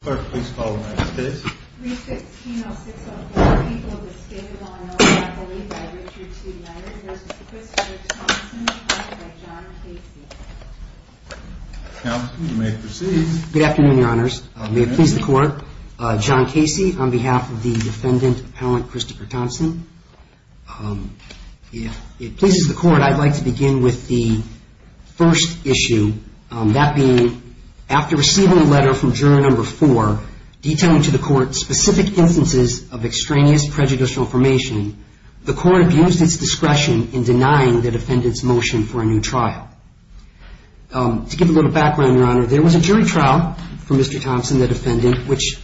Good afternoon, Your Honors. May it please the Court, John Casey on behalf of the Defendant Appellant Christopher Thompson. If it pleases the Court, I'd like to begin with the first part of my report, detailing to the Court specific instances of extraneous prejudicial information. The Court abused its discretion in denying the Defendant's motion for a new trial. To give a little background, Your Honor, there was a jury trial for Mr. Thompson, the Defendant, which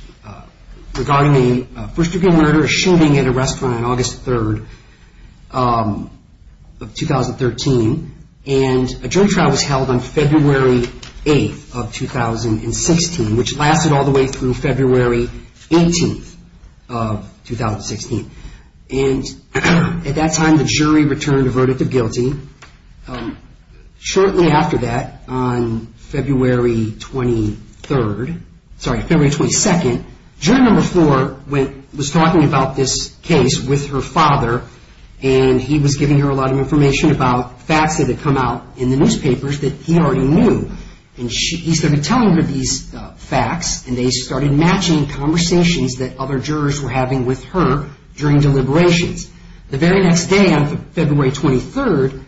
regarding a first-degree murder, a shooting at a restaurant on August 3rd of 2013, and a jury trial was held on February 8th of 2016, which lasted all the way through February 18th of 2016. At that time, the jury returned a verdict of guilty. Shortly after that, on February 22nd, jury number four was talking about this case with her father, and he was telling her a lot of information about facts that had come out in the newspapers that he already knew. He started telling her these facts, and they started matching conversations that other jurors were having with her during deliberations. The very next day, on February 23rd,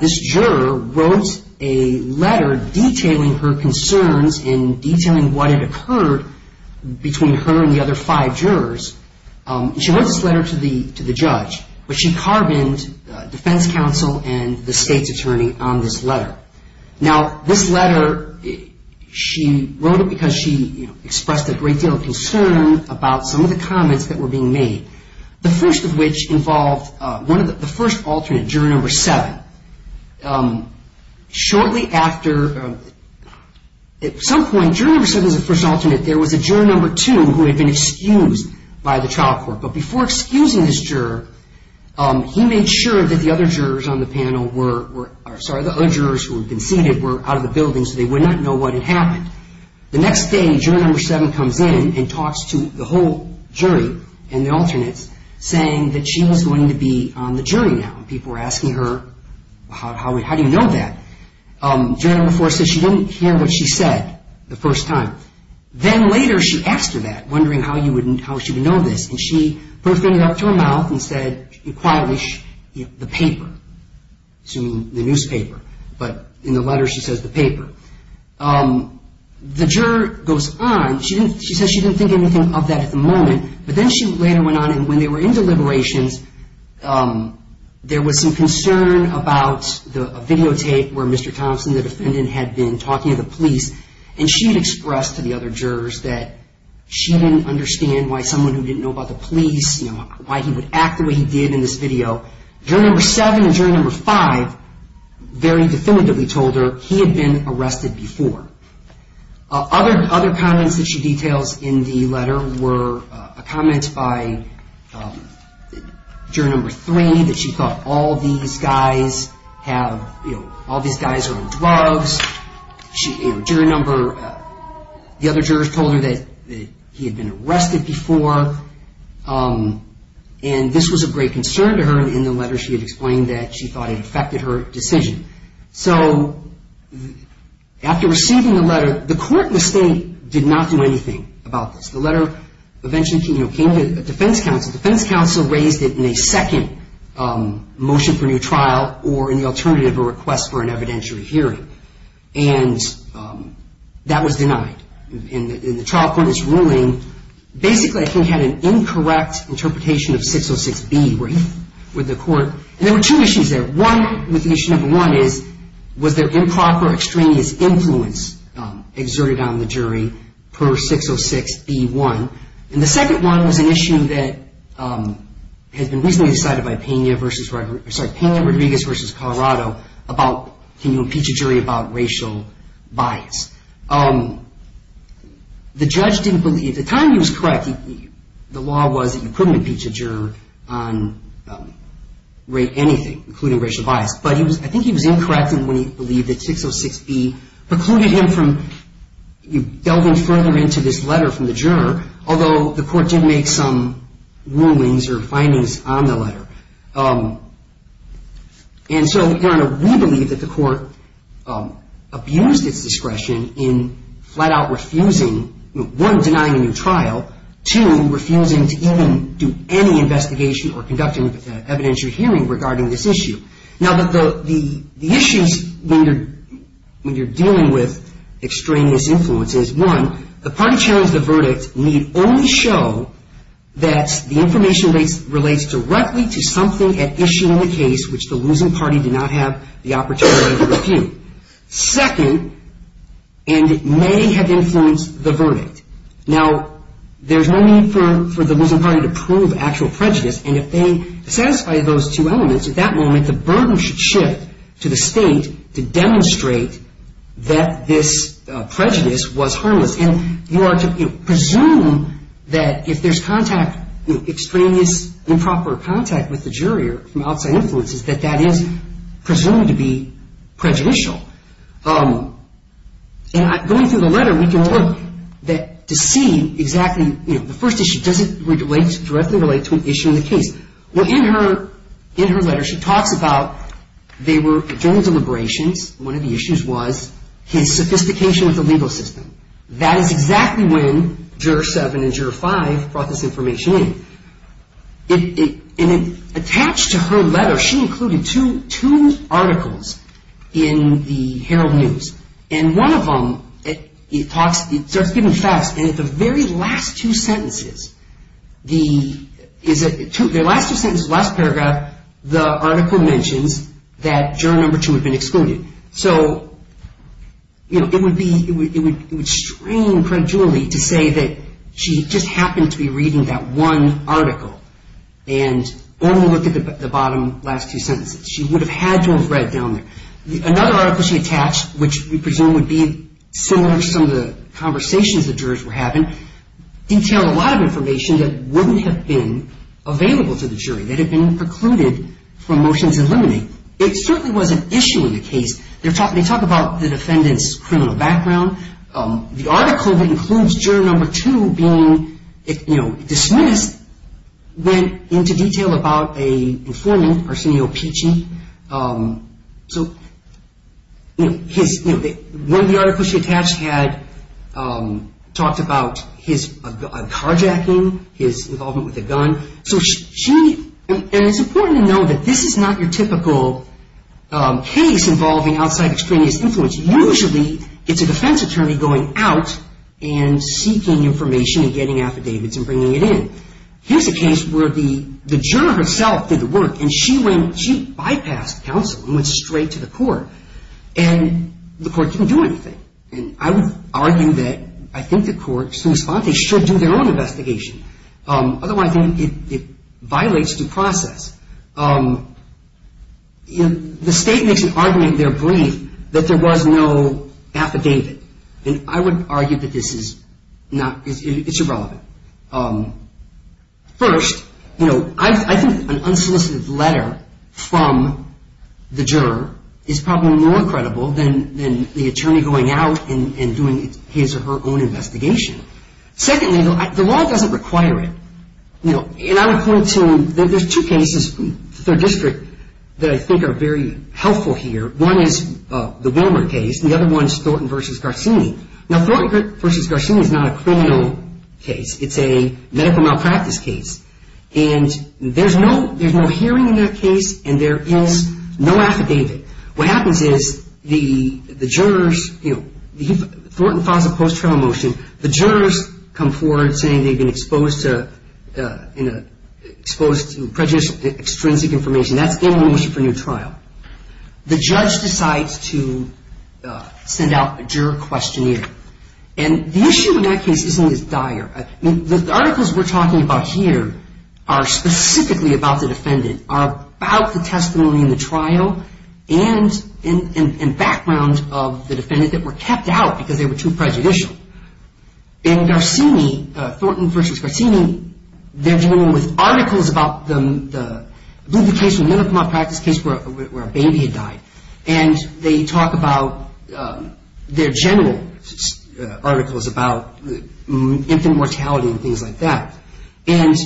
this juror wrote a letter detailing her concerns and detailing what had occurred between her and the other five jurors. She wrote this to the judge, but she carboned defense counsel and the state's attorney on this letter. Now, this letter, she wrote it because she expressed a great deal of concern about some of the comments that were being made, the first of which involved the first alternate, juror number seven. At some point, juror number seven was the first alternate. There was a he made sure that the other jurors on the panel were out of the building, so they would not know what had happened. The next day, juror number seven comes in and talks to the whole jury and the alternates, saying that she was going to be on the jury now. People were asking her, how do you know that? Juror number four said she didn't hear what she said the first time. Then later, she asked her that, wondering how she would know this. She put her finger up to her mouth and said, quietly, the paper. I'm assuming the newspaper, but in the letter, she says the paper. The juror goes on. She says she didn't think anything of that at the moment, but then she later went on, and when they were in deliberations, there was some concern about a videotape where Mr. Thompson, the defendant, had been talking to the police, and she had expressed to the other jurors that she didn't understand why someone who didn't know about the police, why he would act the way he did in this video. Juror number seven and juror number five very definitively told her he had been arrested before. Other comments that she details in the letter were a comment by juror number three that she thought all these guys are on drugs. The other jurors told her that he had been arrested before, and this was of great concern to her, and in the letter, she had explained that she thought it affected her decision. So after receiving the letter, the court mistake did not do anything about this. The letter eventually came to a defense counsel. The defense counsel raised it in a second motion for new trial or in the alternative, a request for an evidentiary hearing, and that was denied. In the trial court's ruling, basically I think had an incorrect interpretation of 606B with the court, and there were two issues there. One with issue number one is was there improper extraneous influence exerted on the jury per 606B1, and the second one was an issue that has been recently decided by Pena-Rodriguez versus Colorado about can you impeach a jury about racial bias. The judge didn't believe, at the time he was correct, the law was that you couldn't impeach a juror on anything, including racial bias, but I think he was incorrect in when he believed that 606B precluded him from delving further into this letter from the juror, although the court did make some rulings or findings on the letter. And so, we believe that the court abused its discretion in flat out refusing, one, denying a new trial, two, refusing to even do any investigation or conducting an evidentiary hearing regarding this issue. Now, the issues when you're dealing with extraneous influences, one, the parties sharing the verdict need only show that the information relates directly to something at issue in the case which the losing party did not have the opportunity to refute. Second, and it may have influenced the verdict. Now, there's no need for the losing party to prove actual prejudice, and if they satisfy those two elements, at that moment the burden should shift to the state to demonstrate that this prejudice was harmless. And you are to presume that if there's contact, extraneous improper contact with the juror from outside influences, that that is presumed to be prejudicial. And going through the letter we can look to see exactly, you know, the first issue, does it relate, directly relate to an issue in the case? Well, in her letter she talks about, they were adjourned deliberations, one of the issues was his sophistication with the legal system. That is exactly when Juror 7 and Juror 5 brought this information in. And attached to her letter, she included two articles in the Herald News, and one of them, it talks, it starts getting fast, and at the very last two sentences, the last two sentences, last paragraph, the article mentions that the jury was adjourned. So, you know, it would be, it would strain Judge Julie to say that she just happened to be reading that one article, and only look at the bottom last two sentences. She would have had to have read down there. Another article she attached, which we presume would be similar to some of the conversations the jurors were having, detailed a lot of information that wouldn't have been available to the jury, that had been precluded from motions in limine. It certainly was an issue in the case. They're talking, they talk about the defendant's criminal background. The article that includes Juror Number 2 being, you know, dismissed, went into detail about a informant, Arsenio Picci. So, you know, his, you know, one of the articles she attached had talked about his carjacking, his involvement with a gun. So she, and it's important to know that this is not your typical case involving outside extraneous influence. Usually, it's a defense attorney going out and seeking information and getting affidavits and bringing it in. Here's a case where the, the juror herself did the work, and she went, she bypassed counsel and went straight to the court, and the court didn't do anything. And I would argue that I think the court should respond, they should do their own investigation. Otherwise, I think it violates due process. You know, the state makes an argument in their brief that there was no affidavit, and I would argue that this is not, it's irrelevant. First, you know, I think an unsolicited letter from the juror is probably more credible than, than the attorney going out and doing his or her own investigation. Secondly, the law doesn't require it. You know, and I would point to, there's two cases from the third district that I think are very helpful here. One is the Wilmer case, and the other one is Thornton v. Garcini. Now, Thornton v. Garcini is not a criminal case. It's a medical malpractice case. And there's no, there's no hearing in that case, and there is no affidavit. What happens is the jurors, you know, Thornton files a post-trial motion, the jurors come forward saying they've been exposed to, you know, exposed to prejudicial, extrinsic information. That's getting a motion for a new trial. The judge decides to send out a juror questionnaire. And the issue in that case isn't as dire. I mean, the articles we're talking about here are specifically about the defendant, are about the testimony in the trial, and background of the defendant that were kept out because they were too prejudicial. In Garcini, Thornton v. Garcini, they're dealing with articles about the, the case, the medical malpractice case where a baby had died. And they talk about their general articles about infant mortality and things like that. And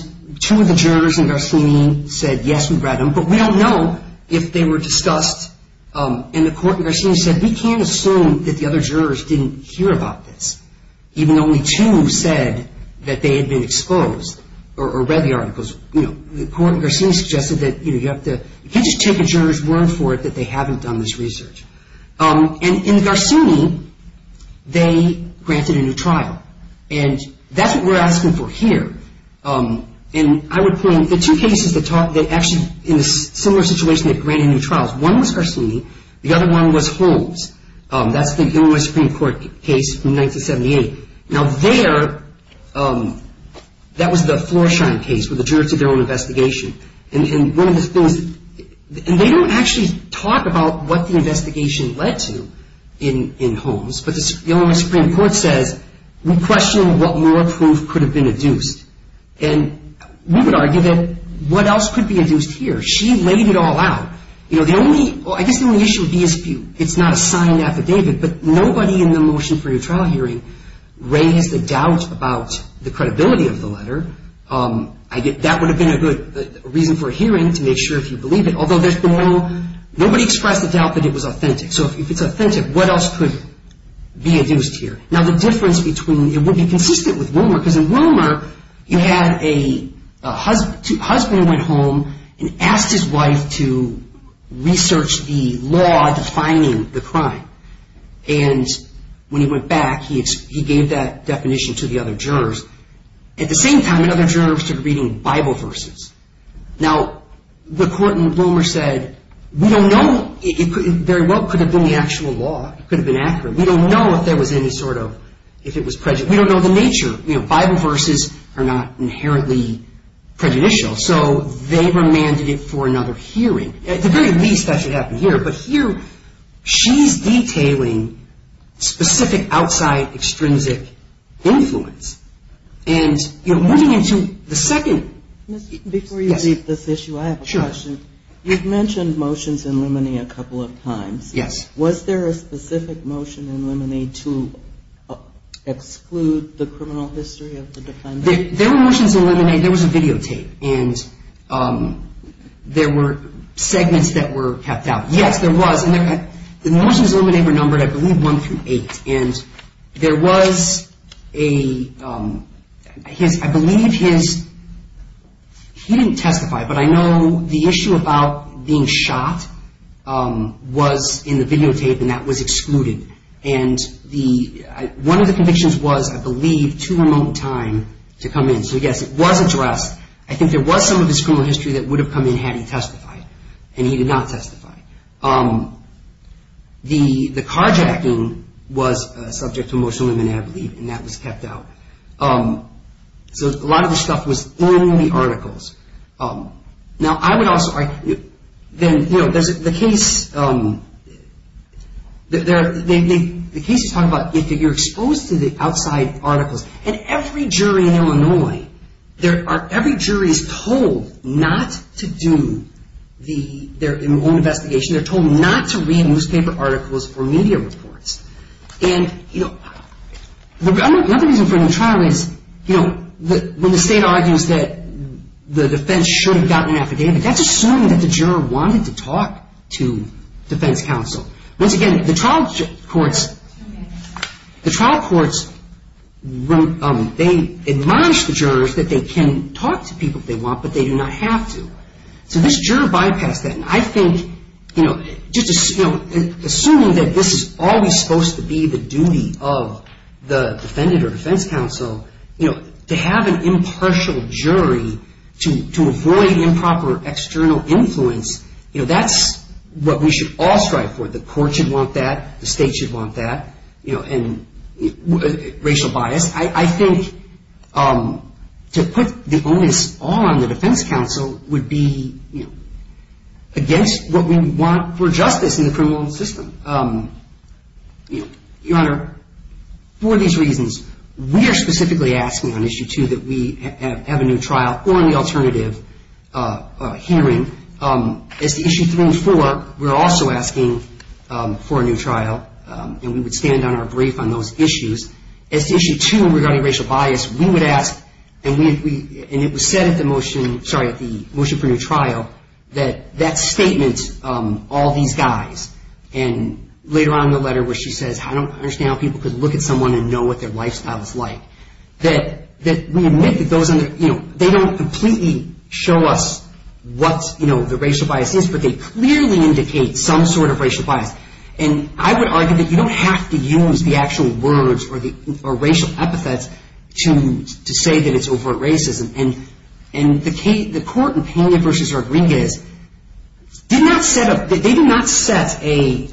two of the jurors in Garcini said, yes, we brought them, but we don't know if they were discussed in the court. And Garcini said, we can't assume that the other jurors didn't hear about this, even though only two said that they had been exposed or read the articles. You know, the court in Garcini suggested that, you know, you have to, you can't just take a juror's word for it that they haven't done this research. And in Garcini, they granted a new trial. And that's what we're asking for here. And I would point, the two cases that talk, that actually, in a similar situation that granted new trials, one was Garcini, the other one was Holmes. That's the Illinois Supreme Court case from 1978. Now there, that was the Floresheim case where the jurors did their own investigation. And one of the things, and they don't actually talk about what the investigation led to in, in Holmes, but the Illinois Supreme Court says, we question what more proof could have been induced. And we would argue that what else could be induced here? She laid it all out. You know, the only, I guess the only issue would be a spew. It's not a signed affidavit. But nobody in the motion for your trial hearing raised a doubt about the credibility of the letter. I get, that would have been a good reason for a hearing to make sure if you believe it. Although there's been no, nobody expressed the doubt that it was authentic. So if it's authentic, what else could be induced here? Now the difference between, it would be consistent with Wilmer, because in Wilmer, you had a husband, husband went home and asked his wife to research the law defining the crime. And when he went back, he gave that definition to the other jurors. At the same time, the other jurors took reading Bible verses. Now the court in Wilmer said, we don't know, it very well could have been the actual law. It could have been accurate. We don't know if there was any sort of, if it was prejudice. We don't know the nature. You know, Bible verses are rarely prejudicial. So they were mandated for another hearing. At the very least, that should happen here. But here, she's detailing specific outside extrinsic influence. And, you know, moving into the second. Before you leave this issue, I have a question. Sure. You've mentioned motions in limine a couple of times. Yes. Was there a specific motion in limine to exclude the criminal history of the defendant? There were motions in limine. There was a videotape. And there were segments that were kept out. Yes, there was. And the motions in limine were numbered, I believe, one through eight. And there was a, I believe his, he didn't testify, but I know the issue about being shot was in the videotape and that was excluded. And the, one of the convictions was, I believe, too remote time to come in. So yes, it was addressed. I think there was some of his criminal history that would have come in had he testified. And he did not testify. The carjacking was subject to motion in limine, I believe, and that was kept out. So a lot Now, I would also argue, then, you know, the case, the case is talking about if you're exposed to the outside articles. And every jury in Illinois, every jury is told not to do their own investigation. They're told not to read newspaper articles or media reports. And, you know, another reason for the trial is, you know, when the state argues that the defense should have gotten an affidavit, that's assuming that the juror wanted to talk to defense counsel. Once again, the trial courts, the trial courts, they admonish the jurors that they can talk to people if they want, but they do not have to. So this juror bypassed And I think, you know, just assuming that this is always supposed to be the duty of the defendant or defense counsel, you know, to have an impartial jury to avoid improper external influence, you know, that's what we should all strive for. The court should want that. The state should want that. You know, and racial bias. I think to put the onus on the defense counsel would be against what we want for justice in the criminal system. Your Honor, for these reasons, we are specifically asking on Issue 2 that we have a new trial or an alternative hearing. As to Issue 3 and 4, we're also asking for a new trial. And we would stand on our brief on those issues. As to Issue 2 regarding racial bias, we mentioned, sorry, at the motion for new trial, that that statement, all these guys, and later on in the letter where she says, I don't understand how people could look at someone and know what their lifestyle is like, that we admit that those under, you know, they don't completely show us what, you know, the racial bias is, but they clearly indicate some sort of racial bias. And I would argue that you don't have to use the actual words or racial epithets to say that it's overt racism. And the court in Pena v. Rodriguez did not set up, they did not set a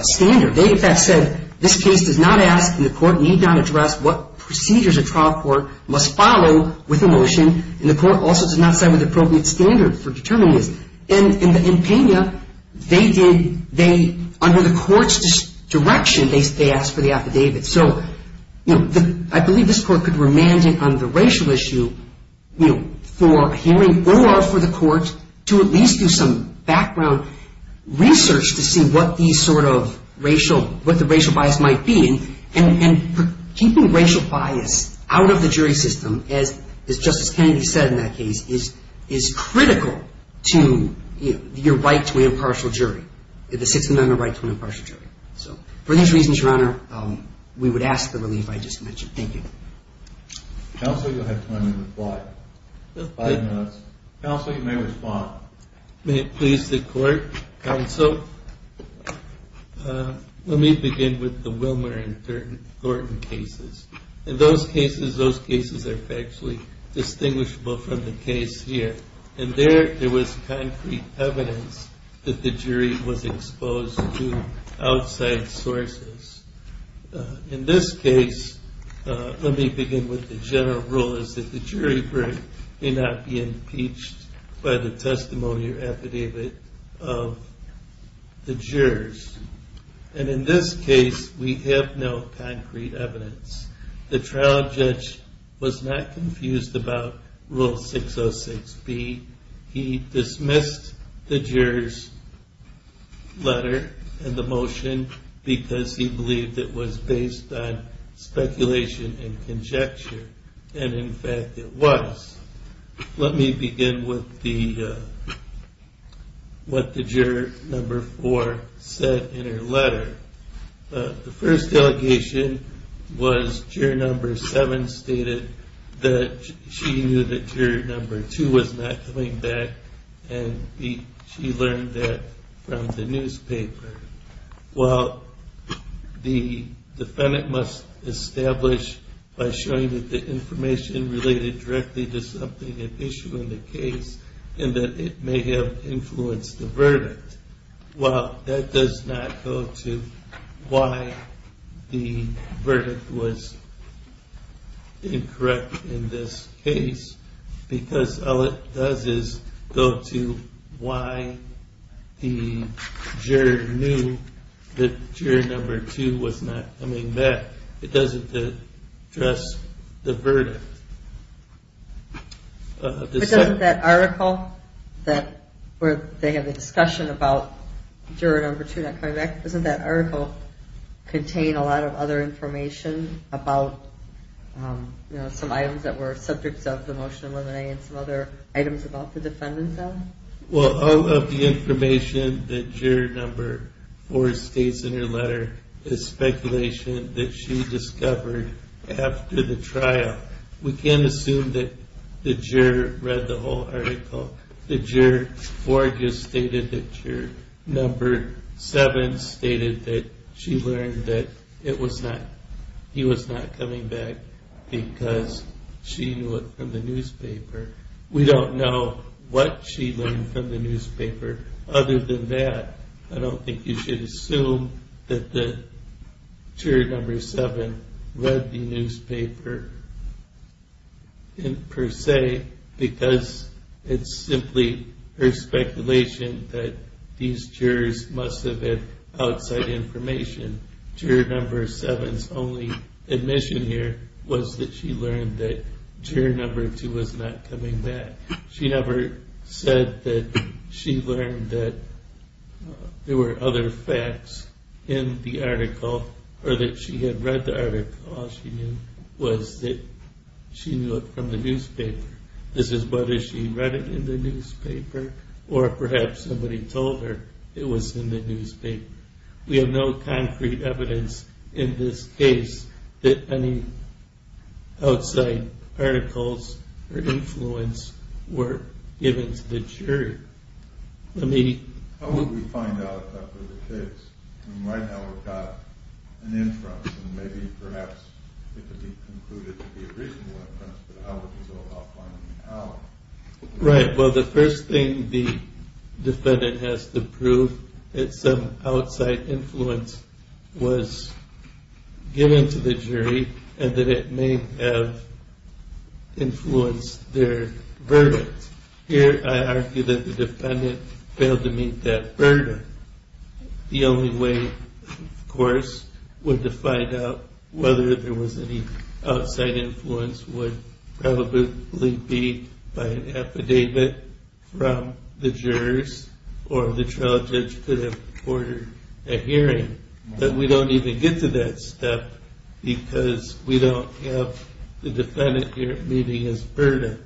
standard. They, in fact, said this case does not ask and the court need not address what procedures a trial court must follow with a motion, and the court also did not set an appropriate standard for determining this. And in Pena, they did, they, under the court's direction, they asked for the affidavit. So, you know, I believe this court could remand it on the racial issue, you know, for a hearing or for the court to at least do some background research to see what these sort of racial, what the racial bias might be. And keeping racial bias out of the jury system, as Justice you're right to an impartial jury. The Sixth Amendment right to an impartial jury. So, for those reasons, Your Honor, we would ask the relief I just mentioned. Thank you. Counsel, you'll have time to reply. Five minutes. Counsel, you may respond. May it please the court. Counsel, let me begin with the Wilmer and Thornton cases. In those cases, those cases are factually distinguishable from the case here. And there, there was concrete evidence that the jury was exposed to outside sources. In this case, let me begin with the general rule, is that the jury may not be impeached by the testimony or affidavit of the jurors. And in this case, we have no concrete evidence. The trial judge was not confused about Rule 606B. He dismissed the juror's letter and the motion because he believed it was based on speculation and conjecture. And in fact, it was. Let me begin with the, what the juror number four said in her letter. The first allegation was juror number seven stated that she knew that juror number two was not coming back and she learned that from the newspaper. Well, the defendant must establish by showing that the information related directly to something at issue in the case and that it may have influenced the verdict. Well, that does not go to why the verdict was incorrect in this case because all it does is go to why the juror knew that juror number two was not coming back. It doesn't address the verdict. But doesn't that article where they have a discussion about juror number two not coming back, doesn't that article contain a lot of other information about some items that were subjects of the motion of limine and some other items about the defendant then? Well, all of the information that juror number four states in her letter is speculation that she discovered after the trial. We can't assume that the juror read the whole article. The juror four just stated that juror number seven stated that she learned that it was not, he was not coming back because she knew it from the newspaper. We don't know what she learned from the newspaper other than that. I don't think you should assume that juror number seven read the newspaper per se because it's simply her speculation that these jurors must have had outside information. Juror number seven's only admission here was that she learned that juror number two was not coming back. She never said that she learned that there were other facts in the article or that she had read the article. All she knew was that she knew it from the newspaper. This is whether she read it in the newspaper or perhaps somebody told her it was in the newspaper. We have no concrete evidence in this case that any outside articles or influence were given to the juror. How would we find out after the case? Right now we've got an inference and maybe perhaps it could be concluded to be a reasonable inference, but how would we go about finding out? Right, well the first thing the defendant has to prove is that some outside influence was given to the jury and that it may have influenced their verdict. Here I argue that the defendant failed to meet that verdict. The only way, of course, to find out whether there was any outside influence would probably be by an affidavit from the jurors or the trial judge could have ordered a hearing, but we don't even get to that step because we don't have the defendant here meeting his verdict.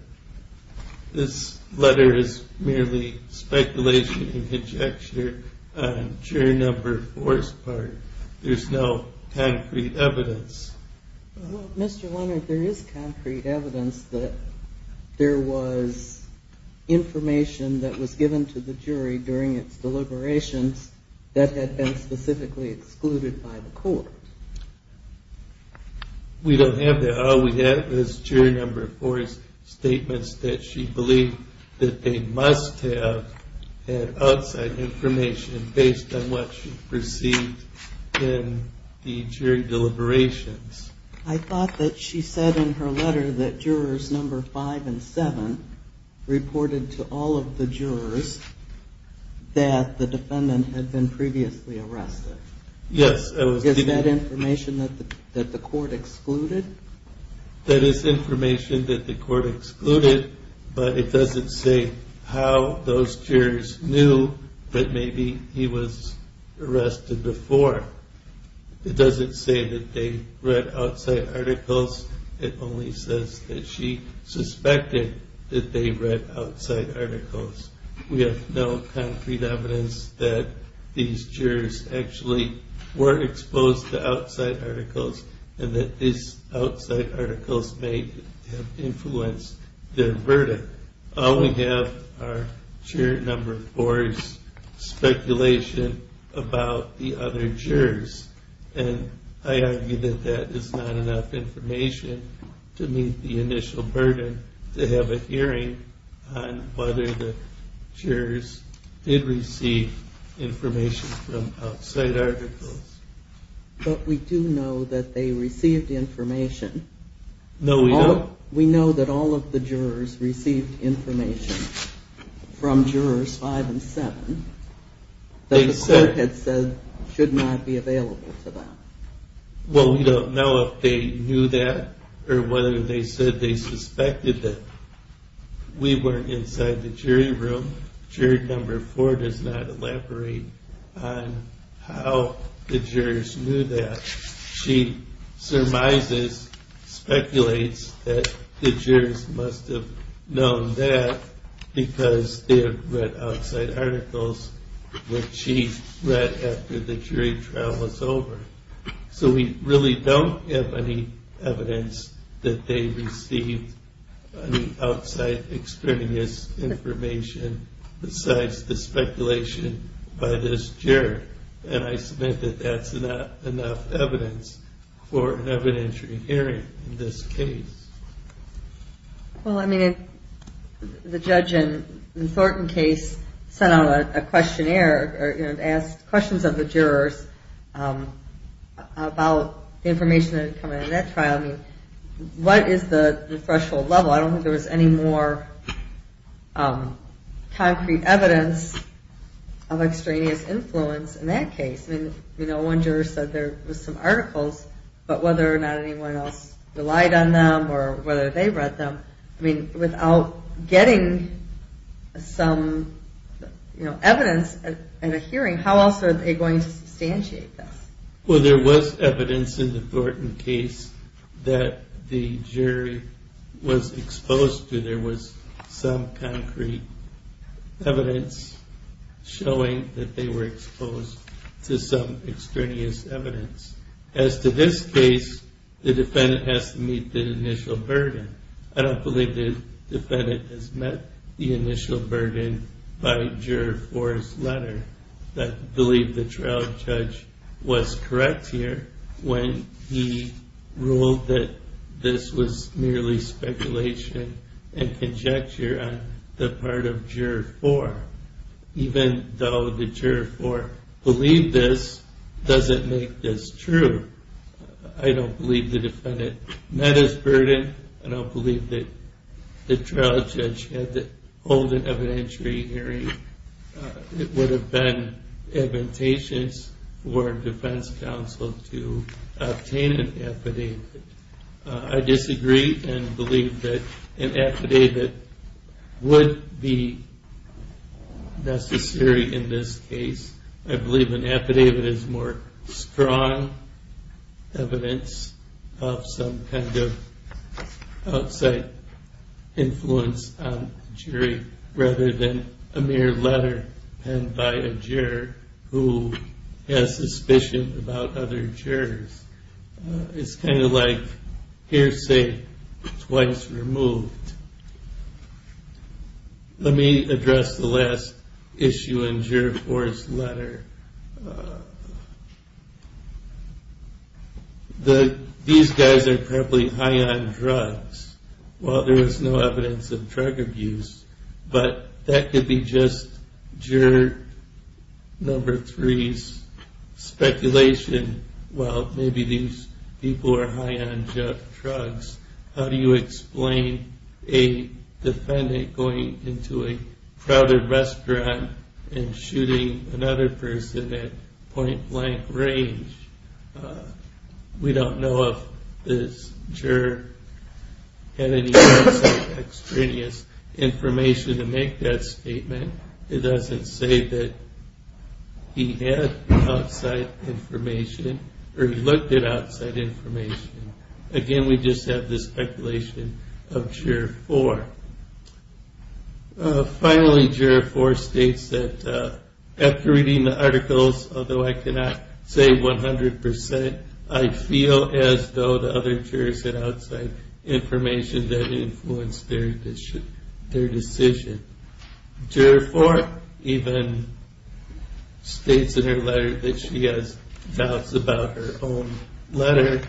This letter is merely speculation and conjecture on juror number four's part. There's no concrete evidence. Well, Mr. Leonard, there is concrete evidence that there was information that was given to the jury during its deliberations that had been specifically excluded by the court. We don't have that. All we have is juror number four's statements that she believed that they must have had outside information based on what she perceived in the jury deliberations. I thought that she said in her letter that jurors number five and seven reported to all of the jurors that the defendant had been previously arrested. Yes. Is that information that the court excluded? That is information that the court excluded, but it doesn't say how those jurors knew that maybe he was arrested before. It doesn't say that they read outside articles. It only says that she suspected that they read outside articles. We have no concrete evidence that these jurors actually were exposed to outside articles and that these outside articles may have influenced their verdict. All we have are juror number four's speculation about the other jurors, and I argue that that is not enough information to meet the initial burden to have a hearing on whether the jurors did receive information from outside articles. But we do know that they received information. No, we don't. We know that all of the jurors received information from jurors five and seven that the court had said should not be available to them. Well, we don't know if they knew that or whether they said they suspected that we were inside the jury room. Juror number four does not elaborate on how the jurors knew that. She surmises, speculates that the jurors must have known that because they had read outside articles which she read after the jury trial was over. So we really don't have any evidence that they received any outside extraneous information besides the speculation by this juror, and I submit that that's not enough evidence for an evidentiary hearing in this case. Well, I mean, the judge in Thornton case sent out a questionnaire and asked questions of the jurors about the information that had come out of that trial. I mean, what is the threshold level? I don't think there was any more concrete evidence of extraneous influence in that case. I mean, you know, one juror said there was some articles, but whether or not anyone else relied on them or whether they read them, I mean, without getting some evidence at a hearing, how else are they going to substantiate this? Well, there was evidence in the Thornton case that the jury was exposed to. There was some concrete evidence showing that they were exposed to some extraneous evidence. As to this case, the defendant has to meet the initial burden. I don't believe the defendant has met the initial burden by Juror 4's letter. I believe the trial judge was correct here when he ruled that this was merely speculation and conjecture on the part of Juror 4, even though the Juror 4 believed this doesn't make this true. I don't believe the defendant met his burden. I don't believe that the trial judge had to hold an evidentiary hearing. It would have been invitations for defense counsel to obtain an affidavit. I disagree and believe that an affidavit would be necessary in this case. I believe an affidavit is more strong evidence of some kind of outside influence on the jury rather than a mere letter penned by a juror who has suspicion about other jurors. It's kind of like hearsay twice removed. Let me address the last issue in Juror 4's letter. These guys are probably high on drugs. While there is no evidence of drug abuse, but that could be just Juror 3's speculation while maybe these people are high on drugs. How do you explain a defendant going into a crowded restaurant and shooting another person at point-blank range? We don't know if this juror had any outside extraneous information to make that statement. It doesn't say that he had outside information or he looked at outside information. Again, we just have the speculation of Juror 4. Finally, Juror 4 states that after reading the articles, although I cannot say 100%, I feel as though the other jurors had outside information that influenced their decision. Juror 4 even states in her letter that she has doubts about her own letter.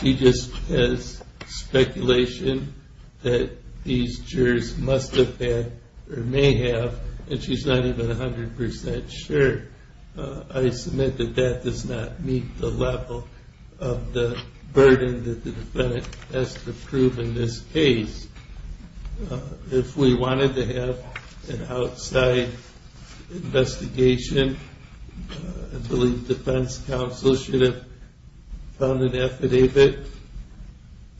She just has speculation that these jurors must have had or may have, and she's not even 100% sure. I submit that that does not meet the level of the burden that the defendant has to prove in this case. If we wanted to have an outside investigation, I believe defense counsel should have found an affidavit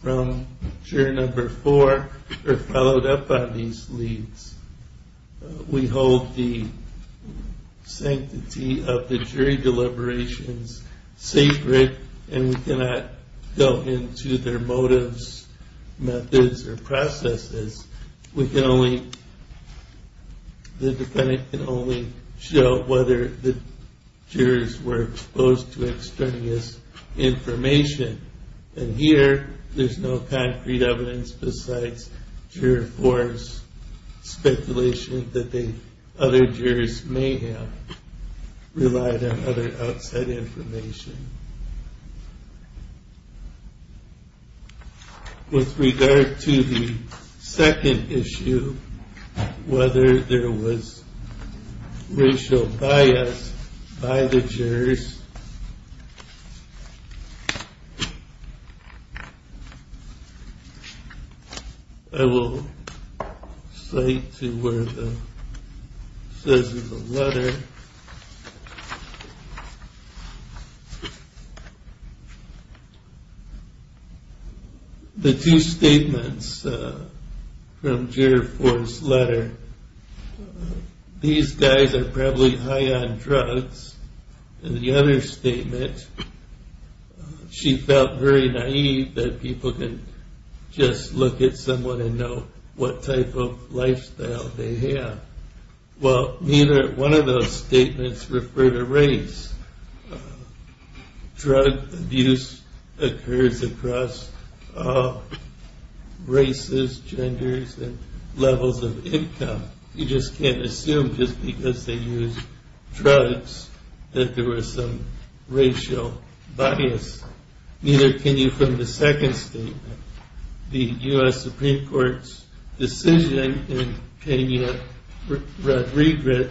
from Juror 4 or followed up on these leads. We hold the sanctity of the jury deliberations sacred, and we cannot go into their motives, methods, or processes. The defendant can only show whether the jurors were exposed to extraneous information. Here, there's no concrete evidence besides Juror 4's speculation that the other jurors may have relied on other outside information. With regard to the second issue, whether there was racial bias by the jurors, I will cite to where it says in the letter. The two statements from Juror 4's letter, these guys are probably high on drugs, and the other statement, she felt very naive that people can just look at someone and know what type of lifestyle they have. Well, neither one of those statements referred to race. Drug abuse occurs across races, genders, and levels of income. You just can't assume just because they use drugs that there was some racial bias. Neither can you from the second statement. The U.S. Supreme Court's decision in Kenya Rodriguez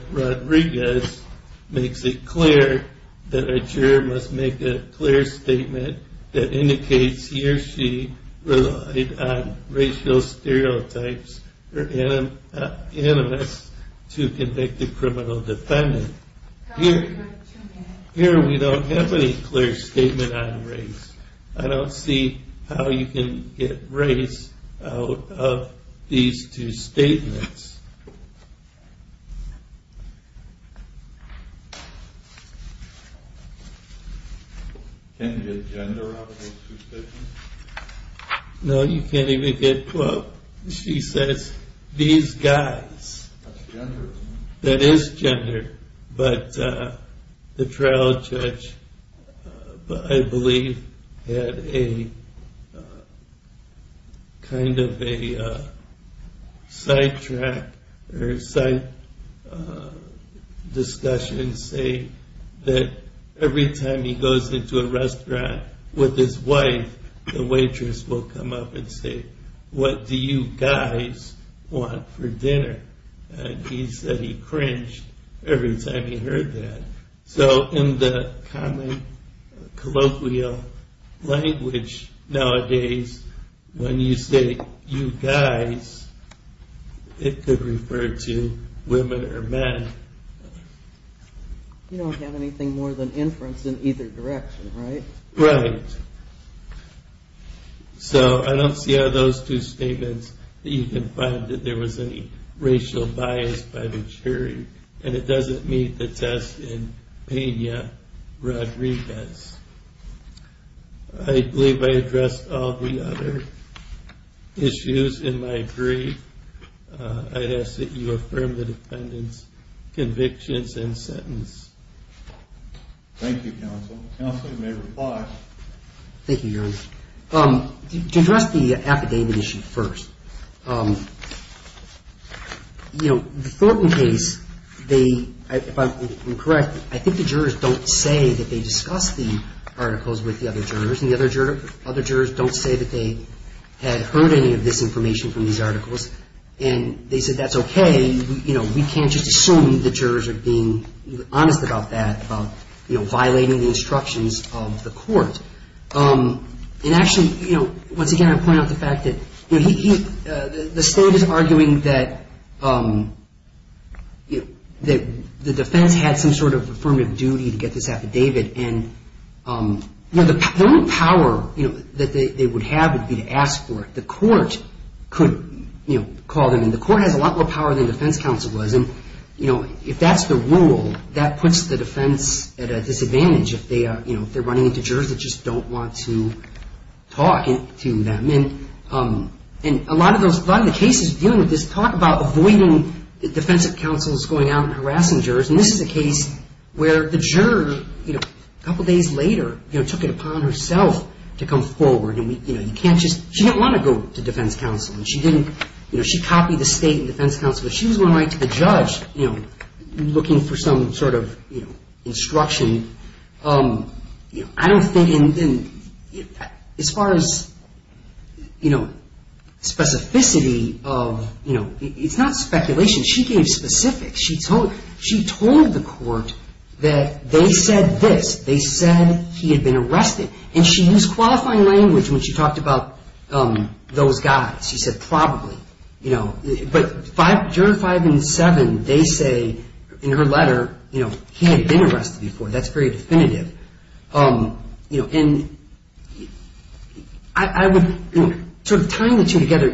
makes it clear that a juror must make a clear statement that indicates he or she relied on racial stereotypes or animus to convict a criminal defendant. Here, we don't have any clear statement on race. I don't see how you can get race out of these two statements. No, you can't even get quote. She says, these guys. That is gender. The trial judge, I believe, had a kind of a sidetrack or side discussion saying that every time he goes into a restaurant with his wife, the waitress will come up and say, what do you guys want for dinner? And he said he cringed every time he heard that. So in the common colloquial language nowadays, when you say, you guys, it could refer to women or men. You don't have anything more than inference in either direction, right? Right. So I don't see how those two statements, that you can find that there was any racial bias by the jury. And it doesn't meet the test in Pena-Rodriguez. I believe I addressed all the other issues in my brief. I'd ask that you affirm the defendant's convictions and sentence. Thank you, counsel. Counsel, you may reply. Thank you, Your Honor. To address the affidavit issue first, the Thornton case, if I'm correct, I think the jurors don't say that they discussed the articles with the other jurors. And the other jurors don't say that they had heard any of this information from these articles. And they said, that's okay. We can't just assume the jurors are being honest about that, about violating the instructions of the court. And actually, once again, I point out the fact that the state is arguing that the defense had some sort of affirmative duty to get this affidavit. And the only power that they would have would be to ask for it. The court could call them. And the court has a lot more power than defense counsel does. And if that's the rule, that puts the defense at a disadvantage. If they're running into jurors that just don't want to talk to them. And a lot of the cases dealing with this talk about avoiding defensive counsels going out and harassing jurors. And this is a case where the juror, a couple days later, took it upon herself to come forward. She didn't want to go to defense counsel. She copied the state and defense counsel. She was going to write to the judge looking for some sort of instruction. I don't think, as far as specificity, it's not speculation. She gave specifics. She told the court that they said this. They said he had been arrested. And she used qualifying language when she talked about those guys. She said probably. But juror five and seven, they say in her letter, he had been arrested before. That's very definitive. And I would sort of tie the two together.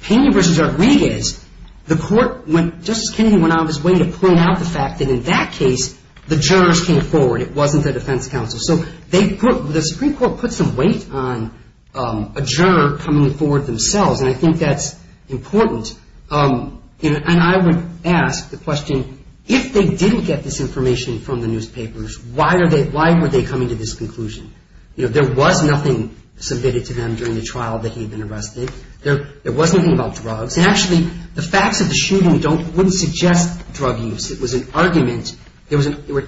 Pena v. Rodriguez, the court, Justice Kennedy went out of his way to point out the fact that in that case, the jurors came forward. It wasn't the defense counsel. So the Supreme Court put some weight on a juror coming forward themselves. And I think that's important. And I would ask the question, if they didn't get this information from the newspapers, why were they coming to this conclusion? You know, there was nothing submitted to them during the trial that he had been arrested. There was nothing about drugs. And actually, the facts of the shooting wouldn't suggest drug use. It was an argument. There were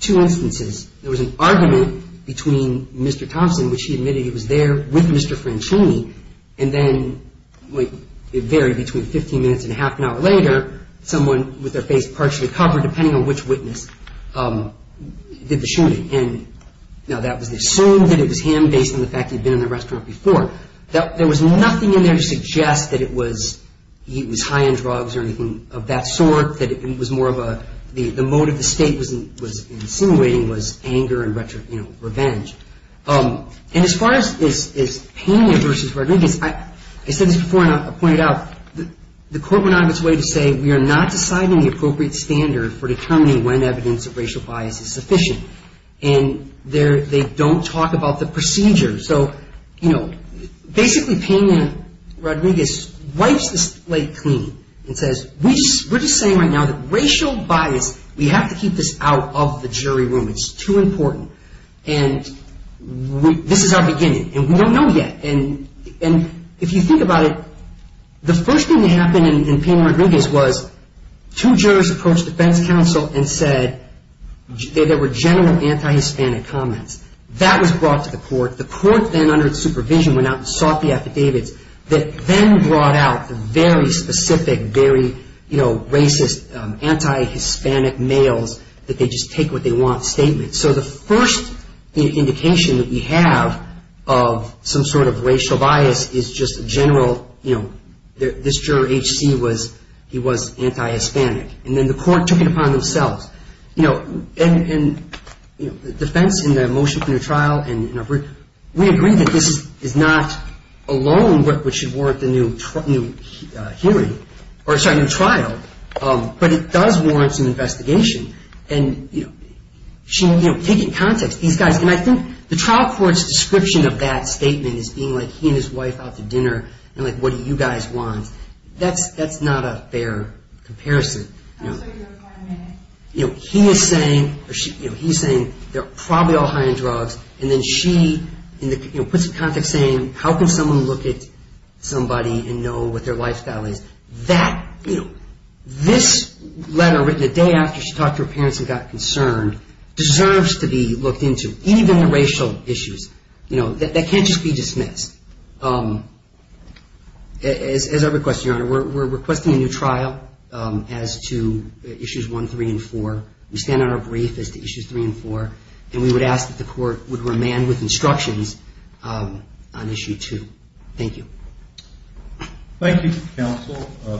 two instances. There was an argument between Mr. Thompson, which he admitted he was there with Mr. Franchini, and then it varied between 15 minutes and a half an hour later, someone with their face partially covered, depending on which witness, did the shooting. And now that was assumed that it was him based on the fact he had been in the restaurant before. There was nothing in there to suggest that he was high on drugs or anything of that sort, that it was more of a the motive the State was insinuating was anger and revenge. And as far as Pena v. Rodriguez, I said this before and I'll point it out, the Court went out of its way to say we are not deciding the appropriate standard for determining when evidence of racial bias is sufficient. And they don't talk about the procedure. So, you know, basically Pena Rodriguez wipes the slate clean and says, we're just saying right now that racial bias, we have to keep this out of the jury room. It's too important. And this is our beginning. And we don't know yet. And if you think about it, the first thing that happened in Pena Rodriguez was two jurors approached defense counsel and said there were general anti-Hispanic comments. That was brought to the Court. The Court then under its supervision went out and sought the affidavits that then brought out the very specific, very, you know, racist, anti-Hispanic males that they just take what they want statements. So the first indication that we have of some sort of racial bias is just a general, you know, this juror, H.C., was he was anti-Hispanic. And then the Court took it upon themselves. And defense in the motion for new trial, we agree that this is not alone what should warrant the new hearing, or sorry, new trial, but it does warrant some investigation. And taking context, these guys, and I think the trial court's description of that statement is being like he and his wife out to dinner and like, what do you guys want? That's not a fair comparison. You know, he is saying, you know, he's saying they're probably all high on drugs. And then she, you know, puts it in context saying how can someone look at somebody and know what their lifestyle is? That, you know, this letter written a day after she talked to her parents and got concerned, deserves to be looked into, even the racial issues. You know, that can't just be dismissed. As I request, Your Honor, we're requesting a new trial as to Issues 1, 3, and 4. We stand on our brief as to Issues 3 and 4. And we would ask that the Court would remand with instructions on Issue 2. Thank you. Thank you, Counsel,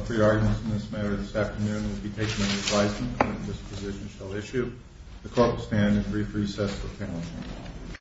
for your arguments in this matter this afternoon. We'll be taking any advisement that this position shall issue. The Court will stand in brief recess for panel discussion.